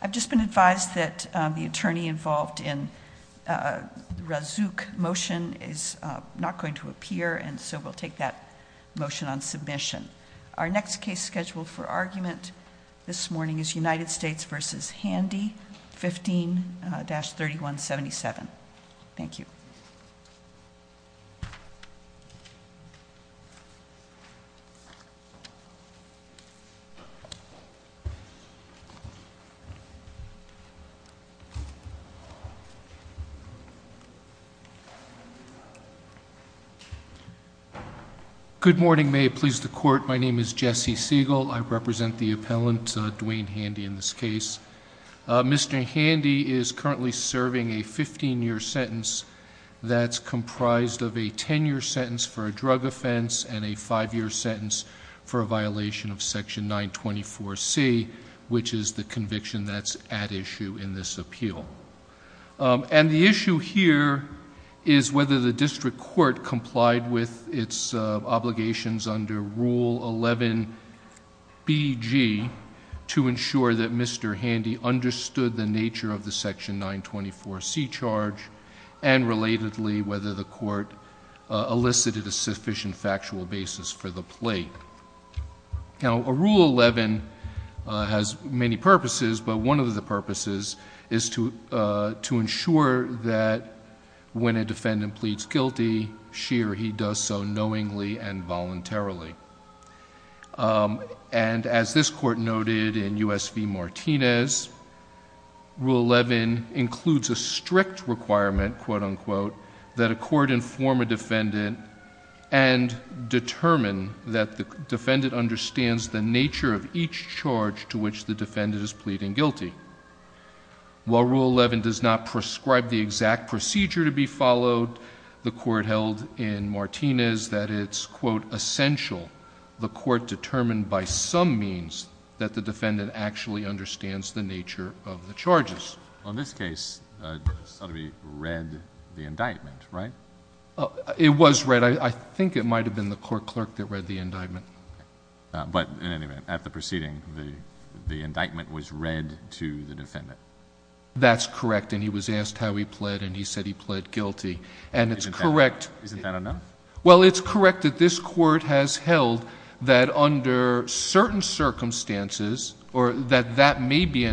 I've just been advised that the attorney involved in the Razook motion is not going to appear, and so we'll take that motion on submission. Our next case scheduled for argument this morning is United States v. Handy, 15-3177. Thank you. Good morning. May it please the court, my name is Jesse Siegel. I represent the appellant Dwayne Handy in this case. Mr. Handy is currently serving a 15-year sentence that's comprised of a 10-year sentence for a drug offense and a five-year sentence for a violation of Section 924C, which is the conviction that's at issue in this appeal. And the issue here is whether the district court complied with its obligations under Rule 11BG to ensure that Mr. Handy understood the nature of the Section 924C charge and, relatedly, whether the court elicited a sufficient factual basis for the plate. Now, Rule 11 has many purposes, but one of the purposes is to ensure that when a defendant pleads guilty, she or he does so knowingly and voluntarily. And as this Court noted in U.S. v. Martinez, Rule 11 includes a strict requirement, quote-unquote, that a court inform a defendant and determine that the defendant understands the nature of each charge to which the defendant is pleading guilty. While Rule 11 does not prescribe the exact procedure to be followed, the court held in Martinez that it's, quote, essential the court determine by some means that the defendant actually understands the nature of the charges. Well, in this case, Sotheby read the indictment, right? It was read. I think it might have been the court clerk that read the indictment. But, in any event, at the proceeding, the indictment was read to the defendant. That's correct. And he was asked how he pled, and he said he pled guilty. And it's correct. Isn't that enough? Well, it's correct that this Court has held that under certain circumstances, or that that may be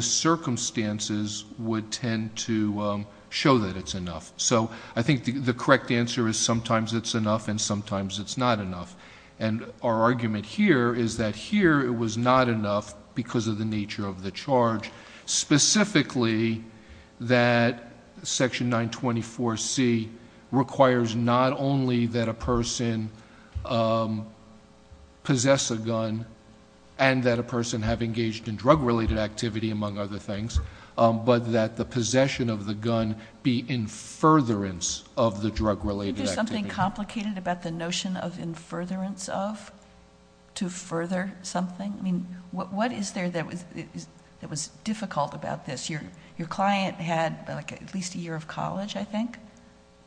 circumstances, would tend to show that it's enough. So I think the correct answer is sometimes it's enough and sometimes it's not enough. And our argument here is that here it was not enough because of the nature of the charge, specifically that Section 924C requires not only that a person possess a gun and that a person have engaged in drug-related activity, among other things, but that the possession of the gun be in furtherance of the drug-related activity. Isn't there something complicated about the notion of in furtherance of, to further something? I mean, what is there that was difficult about this? Your client had like at least a year of college, I think.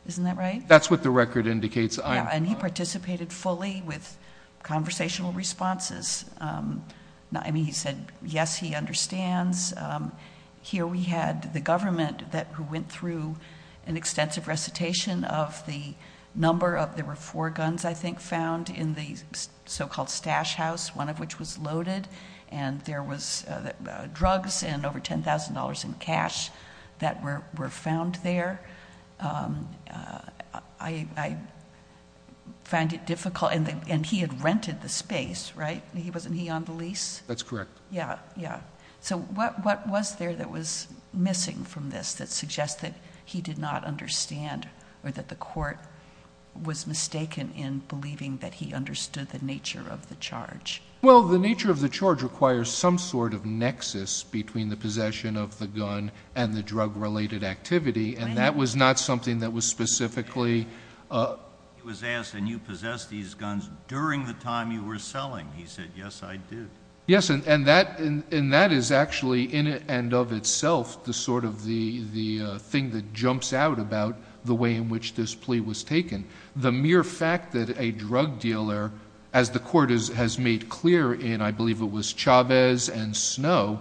Isn't that right? That's what the record indicates. And he participated fully with conversational responses. I mean, he said, yes, he understands. Here we had the government that went through an extensive recitation of the number of, there were four guns I think found in the so-called stash house, one of which was loaded. And there was drugs and over $10,000 in cash that were found there. I find it difficult. And he had rented the space, right? He wasn't he on the lease? That's correct. Yeah. Yeah. So what was there that was missing from this that suggests that he did not understand or that the court was mistaken in believing that he understood the nature of the charge? Well, the nature of the charge requires some sort of nexus between the possession of the gun and the drug-related activity. And that was not something that was specifically... He was asked, and you possessed these guns during the time you were selling. He said, yes, I did. Yes. And that is actually in and of itself the sort of the thing that jumps out about the way in which this plea was taken. The mere fact that a drug dealer, as the court has made clear in, I believe it was Chavez and Snow,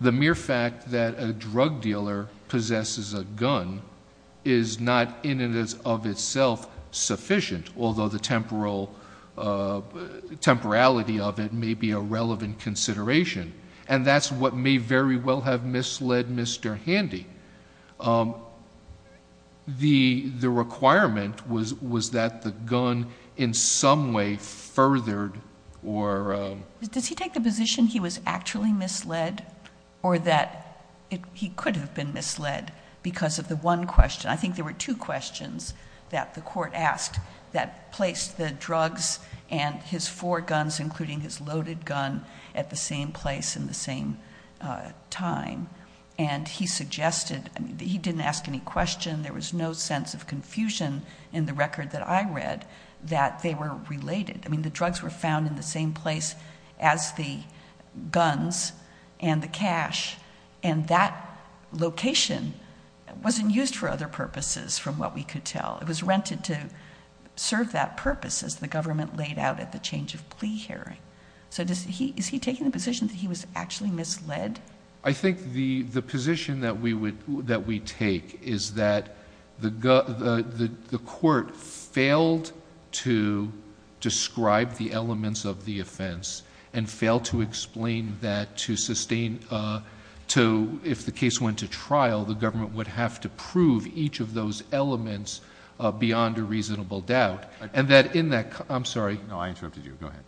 the mere fact that a drug dealer possesses a gun is not in and of itself sufficient, although the temporality of it may be a relevant consideration. And that's what may very well have misled Mr. Handy. The requirement was that the gun in some way furthered or... Does he take the position he was actually misled or that he could have been misled because of the one question? I think there were two questions that the court asked that placed the drugs and his four guns, including his loaded gun, at the same place in the same time. And he suggested... He didn't ask any question. There was no sense of confusion in the record that I read that they were related. I mean, the drugs were found in the same place as the guns and the cash. And that location wasn't used for other purposes from what we could tell. It was rented to serve that purpose as the government laid out at the change of plea hearing. So is he taking the position that he was actually misled? I think the position that we take is that the court failed to describe the elements of the offense and failed to explain that to sustain... If the case went to trial, the government would have to prove each of those elements beyond a reasonable doubt. And that in that... I'm sorry. No, I interrupted you. Go ahead.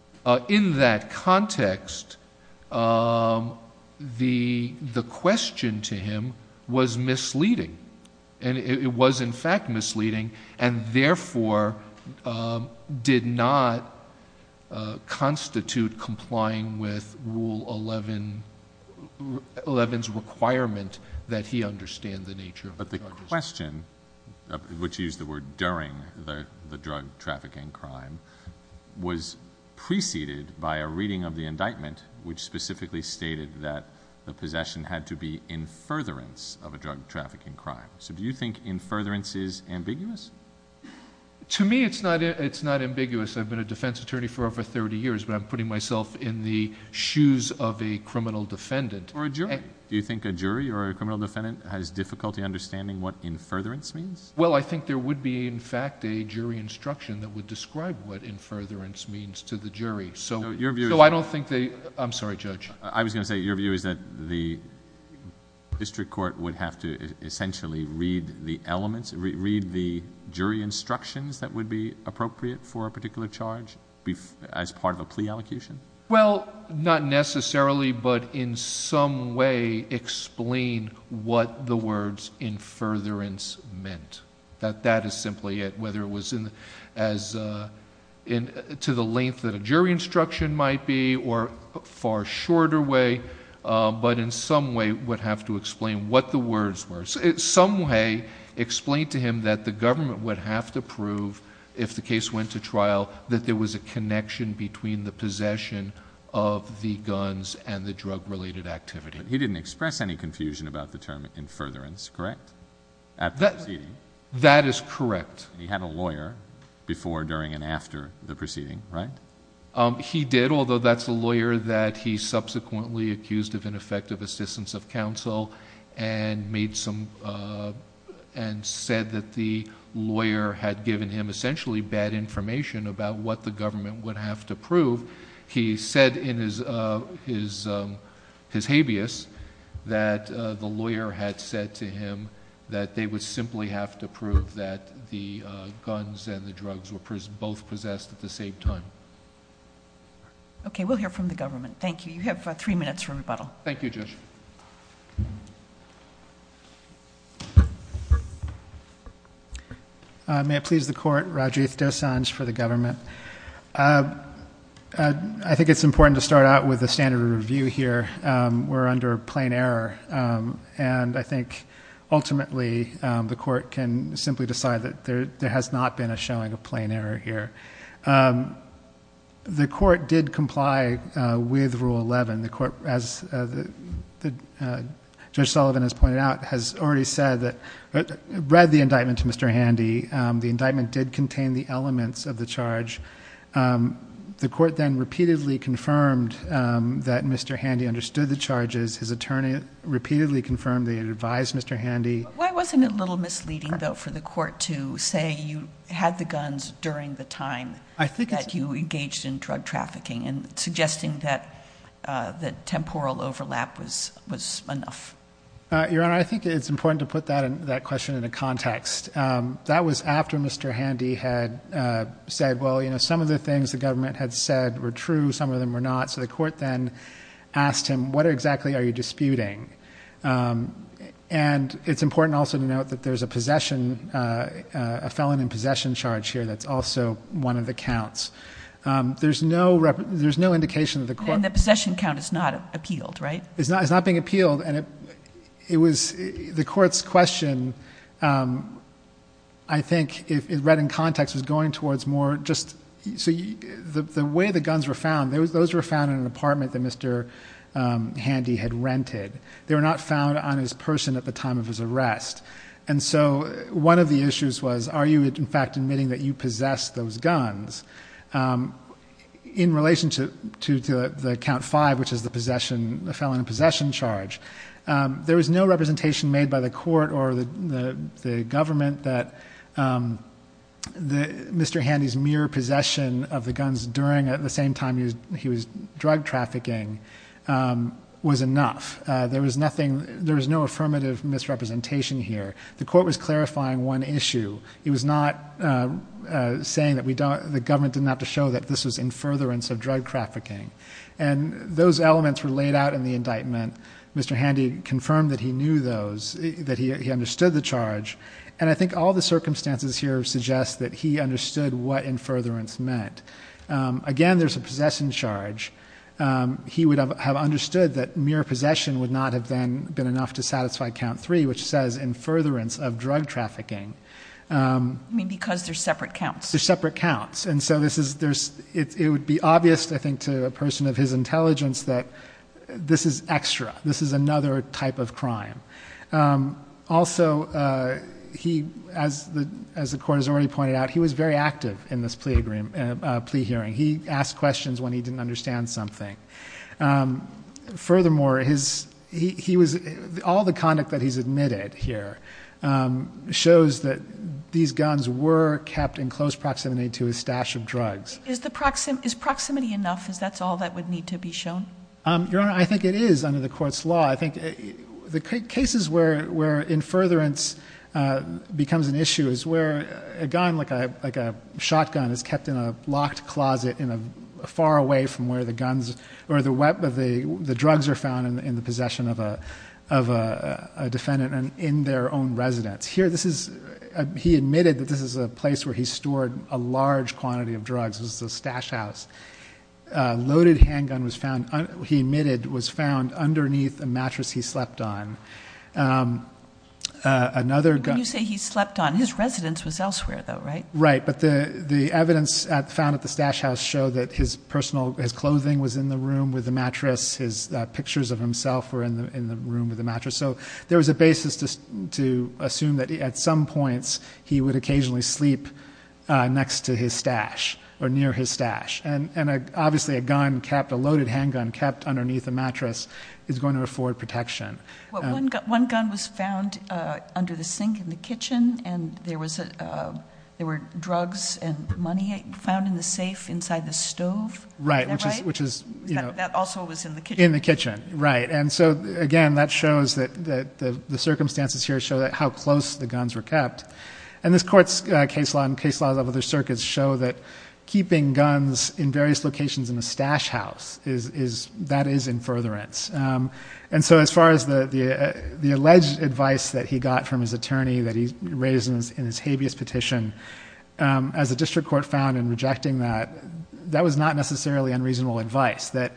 In that context, the question to him was misleading. And it was in fact misleading and therefore did not constitute complying with Rule 11's requirement that he understand the nature of the charges. But the question, which used the word during the drug trafficking crime, was preceded by a reading of the indictment, which specifically stated that the possession had to be in furtherance of a drug trafficking crime. So do you think in furtherance is ambiguous? To me, it's not ambiguous. I've been a defense attorney for over 30 years, but I'm putting myself in the shoes of a criminal defendant. Or a jury. Do you think a jury or a criminal defendant has difficulty understanding what in furtherance means? Well, I think there would be, in fact, a jury instruction that would describe what in furtherance means to the jury. So I don't think they... I'm sorry, Judge. I was going to say your view is that the district court would have to essentially read the elements, read the jury instructions that would be appropriate for a particular charge as part of a plea allocation? Well, not necessarily, but in some way, explain what the words in furtherance meant. That that is simply it. Whether it was to the length that a jury instruction might be, or a far shorter way. But in some way, would have to explain what the words were. In some way, explain to him that the government would have to prove, if the case went to trial, that there was a connection between the possession of the guns and the drug-related activity. But he didn't express any confusion about the term in furtherance, correct? After the proceeding? That is correct. He had a lawyer before, during, and after the proceeding, right? He did, although that's a lawyer that he subsequently accused of ineffective assistance of counsel and said that the lawyer had given him essentially bad information about what the said in his habeas, that the lawyer had said to him that they would simply have to prove that the guns and the drugs were both possessed at the same time. Okay, we'll hear from the government. Thank you. You have three minutes for rebuttal. Thank you, Judge. May it please the court, Rajiv Dosanjh for the government. I think it's important to start out with a standard of review here. We're under plain error, and I think ultimately the court can simply decide that there has not been a showing of plain error here. The court did comply with Rule 11. The court, as Judge Sullivan has pointed out, has already said that, read the indictment to Mr. Handy. The indictment did contain the elements of the charge. The court then repeatedly confirmed that Mr. Handy understood the charges. His attorney repeatedly confirmed that he advised Mr. Handy. Why wasn't it a little misleading, though, for the court to say you had the guns during the time that you engaged in drug trafficking and suggesting that temporal overlap was enough? Your Honor, I think it's important to put that question into context. That was after Mr. Handy had said, well, you know, some of the things the government had said were true, some of them were not. So the court then asked him, what exactly are you disputing? And it's important also to note that there's a possession, a felon in possession charge here that's also one of the counts. There's no indication that the court... And the possession count is not appealed, right? It's not being appealed. And the court's question, I think, read in context was going towards more just... So the way the guns were found, those were found in an apartment that Mr. Handy had rented. They were not found on his person at the time of his arrest. And so one of the issues was, are you in fact admitting that you possess those guns? In relation to the count five, which is the felon in possession charge, there was no representation made by the court or the government that Mr. Handy's mere possession of the guns during the same time he was drug trafficking was enough. There was no affirmative misrepresentation here. The court was clarifying one issue. It was not saying that the government didn't have to show that this was in furtherance of drug trafficking. And those elements were laid out in the indictment. Mr. Handy confirmed that he knew those, that he understood the charge. And I think all the circumstances here suggest that he understood what in furtherance meant. Again, there's a possession charge. He would have understood that mere possession would not have then been enough to satisfy count three, which says in I mean, because they're separate counts. They're separate counts. And so this is, there's, it would be obvious, I think, to a person of his intelligence that this is extra, this is another type of crime. Also, he, as the, as the court has already pointed out, he was very active in this plea agreement, plea hearing. He asked questions when he didn't understand something. Furthermore, his, he was, all the conduct that he's admitted here shows that these guns were kept in close proximity to his stash of drugs. Is the proximity, is proximity enough? Is that's all that would need to be shown? Your Honor, I think it is under the court's law. I think the cases where, where in furtherance becomes an issue is where a gun, like a, like a shotgun is or the weapon, the drugs are found in the possession of a, of a defendant and in their own residence. Here, this is, he admitted that this is a place where he stored a large quantity of drugs. It was the stash house. A loaded handgun was found, he admitted, was found underneath a mattress he slept on. Another gun- When you say he slept on, his residence was elsewhere though, right? Right. But the, the evidence found at the stash house show that his personal, his clothing was in the room with the mattress. His pictures of himself were in the, in the room with the mattress. So there was a basis to, to assume that at some points he would occasionally sleep next to his stash or near his stash. And, and obviously a gun kept, a loaded handgun kept underneath the mattress is going to afford protection. One gun was found under the sink in the kitchen and there was a, there were drugs and money found in the safe inside the stove. Right. Which is, which is, you know- That also was in the kitchen. In the kitchen. Right. And so again, that shows that, that the circumstances here show that how close the guns were kept. And this court's case law and case laws of other circuits show that keeping guns in various locations in a stash house is, is, that is in furtherance. And so as far as the, the, the alleged advice that he got from his attorney that he raised in his, in his habeas petition, as the district court found in rejecting that, that was not necessarily unreasonable advice that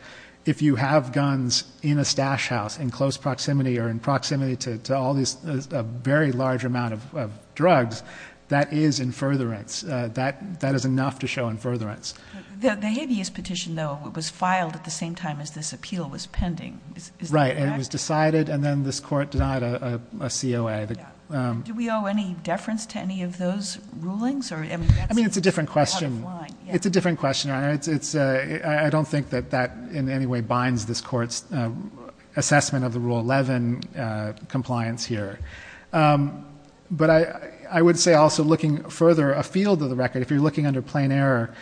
if you have guns in a stash house in close proximity or in proximity to, to all these, a very large amount of drugs, that is in furtherance, that, that is enough to show in furtherance. The, the habeas petition though, it was filed at the same time as this appeal was pending. Right. And it was decided, and then this court denied a COA. Do we owe any deference to any of those rulings or? I mean, it's a different question. It's a different question. It's, it's, uh, I don't think that that in any way binds this court's assessment of the rule 11, uh, compliance here. Um, but I, I would say also looking further, a field of the record, if you're looking under plain error,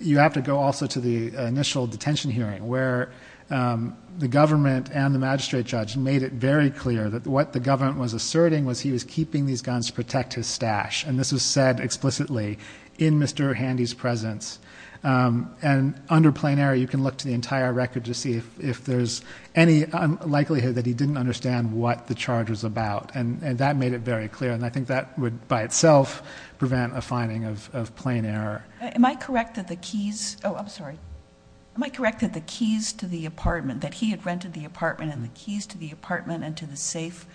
you have to go also to the initial detention hearing where, um, the government and the magistrate judge made it very clear that what the government was asserting was he was keeping these guns to protect his stash. And this was said explicitly in Mr. Handy's presence. Um, and under plain error, you can look to the entire record to see if there's any likelihood that he didn't understand what the charge was about. And that made it very clear. And I think that would by itself prevent a finding of, of plain error. Am I correct that the keys? Oh, I'm sorry. Am I correct that the keys to the apartment that he rented the apartment and the keys to the apartment and to the safe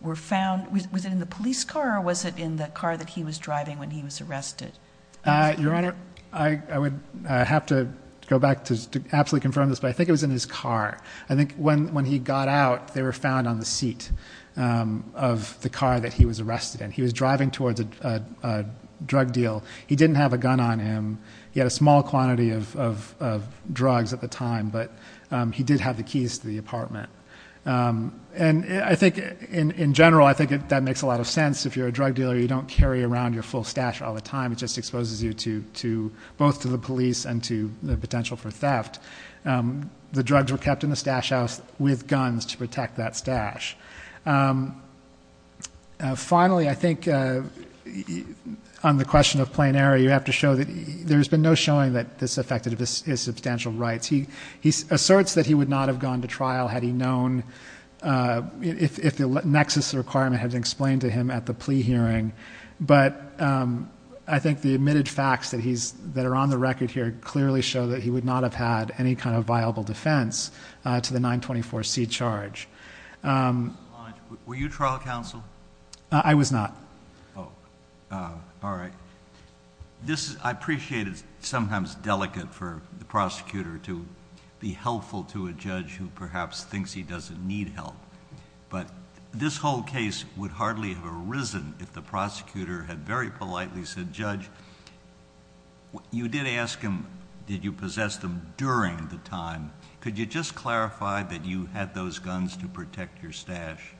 were found within the police car? Or was it in the car that he was driving when he was arrested? Uh, your honor, I, I would have to go back to absolutely confirm this, but I think it was in his car. I think when, when he got out, they were found on the seat, um, of the car that he was arrested in. He was driving towards a, uh, uh, drug deal. He didn't have a gun on him. He had a small quantity of, of, of drugs at the time, but, um, he did have the keys to the apartment. Um, and I think in general, I think that makes a lot of sense. If you're a drug dealer, you don't carry around your full stash all the time. It just exposes you to, to both to the police and to the potential for theft. Um, the drugs were kept in the stash house with guns to protect that stash. Um, uh, finally, I think, uh, on the question of plain error, you have to show that there's been no showing that this affected his substantial rights. He, he asserts that he would not have gone to trial had he known, uh, if, if the nexus requirement had explained to him at the plea hearing. But, um, I think the admitted facts that he's, that are on the record here clearly show that he would not have had any kind of viable defense, uh, to the 924 C charge. Um, were you trial counsel? I was not. Oh, uh, all right. This is, I appreciate it's sometimes delicate for the prosecutor to be helpful to a judge who perhaps thinks he doesn't need help, but this whole case would hardly have arisen if the prosecutor had very politely said, judge, you did ask him, did you possess them during the time? Could you just clarify that you had those guns to protect your stash?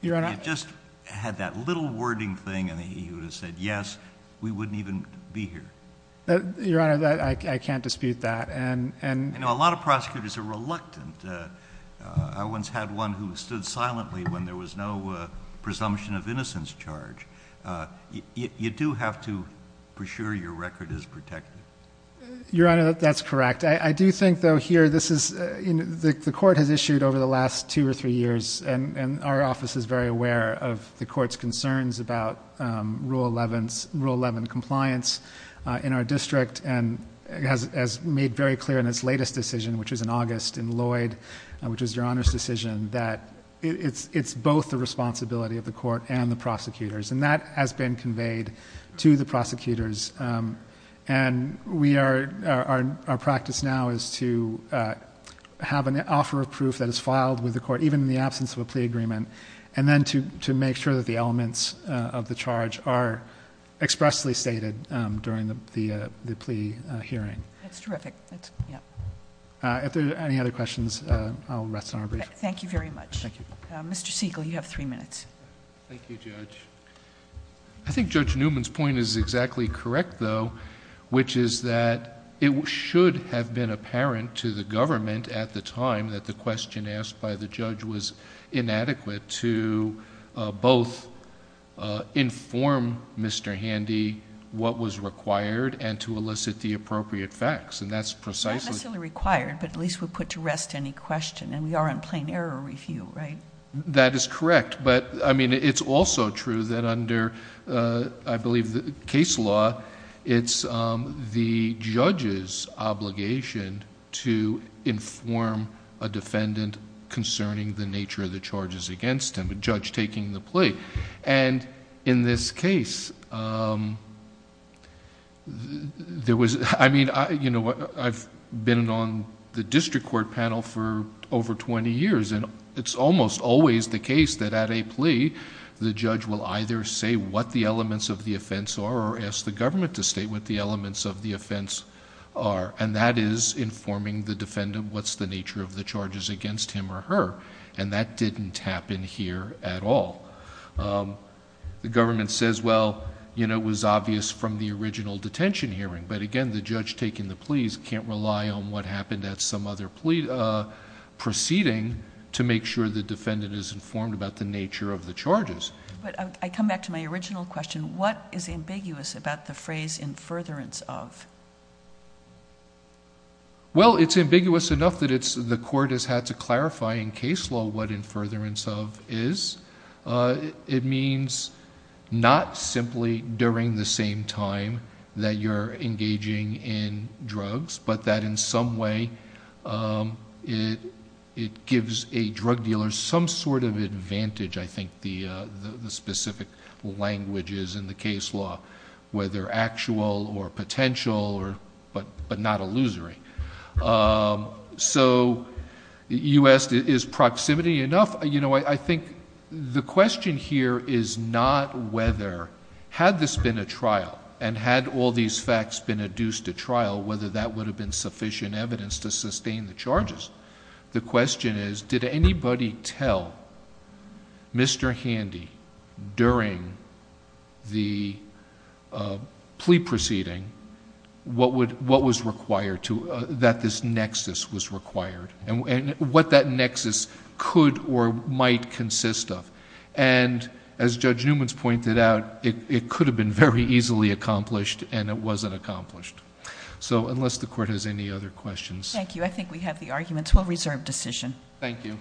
You just had that little wording thing. And he would have said, yes, we wouldn't even be here. Uh, your honor that I can't dispute that. And, and a lot of prosecutors are reluctant. Uh, uh, I once had one who stood silently when there was no, uh, presumption of innocence charge. Uh, you, you do have to for sure your record is protected. Your honor. That's correct. I do think though here, this is in the court has issued over the last two or three years. And, and our office is very aware of the court's concerns about, um, rule 11 rule 11 compliance, uh, in our district. And it has, as made very clear in its latest decision, which was in August in Lloyd, which was your honor's decision that it's, it's both the responsibility of the court and the prosecutors. And that has been conveyed to the prosecutors. Um, and we are, our, our practice now is to, uh, have an offer of to make sure that the elements, uh, of the charge are expressly stated, um, during the, the, uh, the plea hearing. That's terrific. That's yeah. Uh, if there's any other questions, uh, I'll rest on our brief. Thank you very much. Mr. Siegel, you have three minutes. Thank you, judge. I think judge Newman's point is exactly correct though, which is that it should have been apparent to the government at the time that the question asked by the judge was inadequate to, uh, both, uh, inform Mr. Handy what was required and to elicit the appropriate facts. And that's precisely required, but at least we'll put to rest any question and we are on plain error review, right? That is correct. But I mean, it's also true that under, uh, I believe the case law, it's, um, the judge's obligation to inform a defendant concerning the nature of the charges against him, a judge taking the plea. And in this case, um, there was, I mean, I, you know what, I've been on the district court panel for over 20 years and it's almost always the case that at a plea, the judge will either say what the elements of the offense are or ask the government to state what the elements of the offense are. And that is informing the defendant what's the nature of the charges against him or her. And that didn't happen here at all. Um, the government says, well, you know, it was obvious from the original detention hearing, but again, the judge taking the pleas can't rely on what happened at some other plea, uh, proceeding to make sure the defendant is informed about the nature of the charges. But I come back to my original question. What is ambiguous about the phrase in furtherance of? Well, it's ambiguous enough that it's the court has had to clarify in case law. What in furtherance of is, uh, it means not simply during the same time that you're engaging in drugs, but that in some way, um, it, it gives a drug dealer some sort of advantage. I think the, uh, the specific languages in the case law, whether actual or potential or, but, but not illusory. Um, so you asked, is proximity enough? You know, I think the question here is not whether, had this been a trial and had all these facts been adduced to trial, whether that would have been sufficient evidence to sustain the charges. The question is, did anybody tell Mr. Handy during the plea proceeding? What would, what was required to, uh, that this nexus was required and what that nexus could or might consist of. And as judge Newman's pointed out, it could have been very easily accomplished and it wasn't accomplished. So unless the court has any other questions. Thank you. I think we have the arguments. We'll reserve decision. Thank you.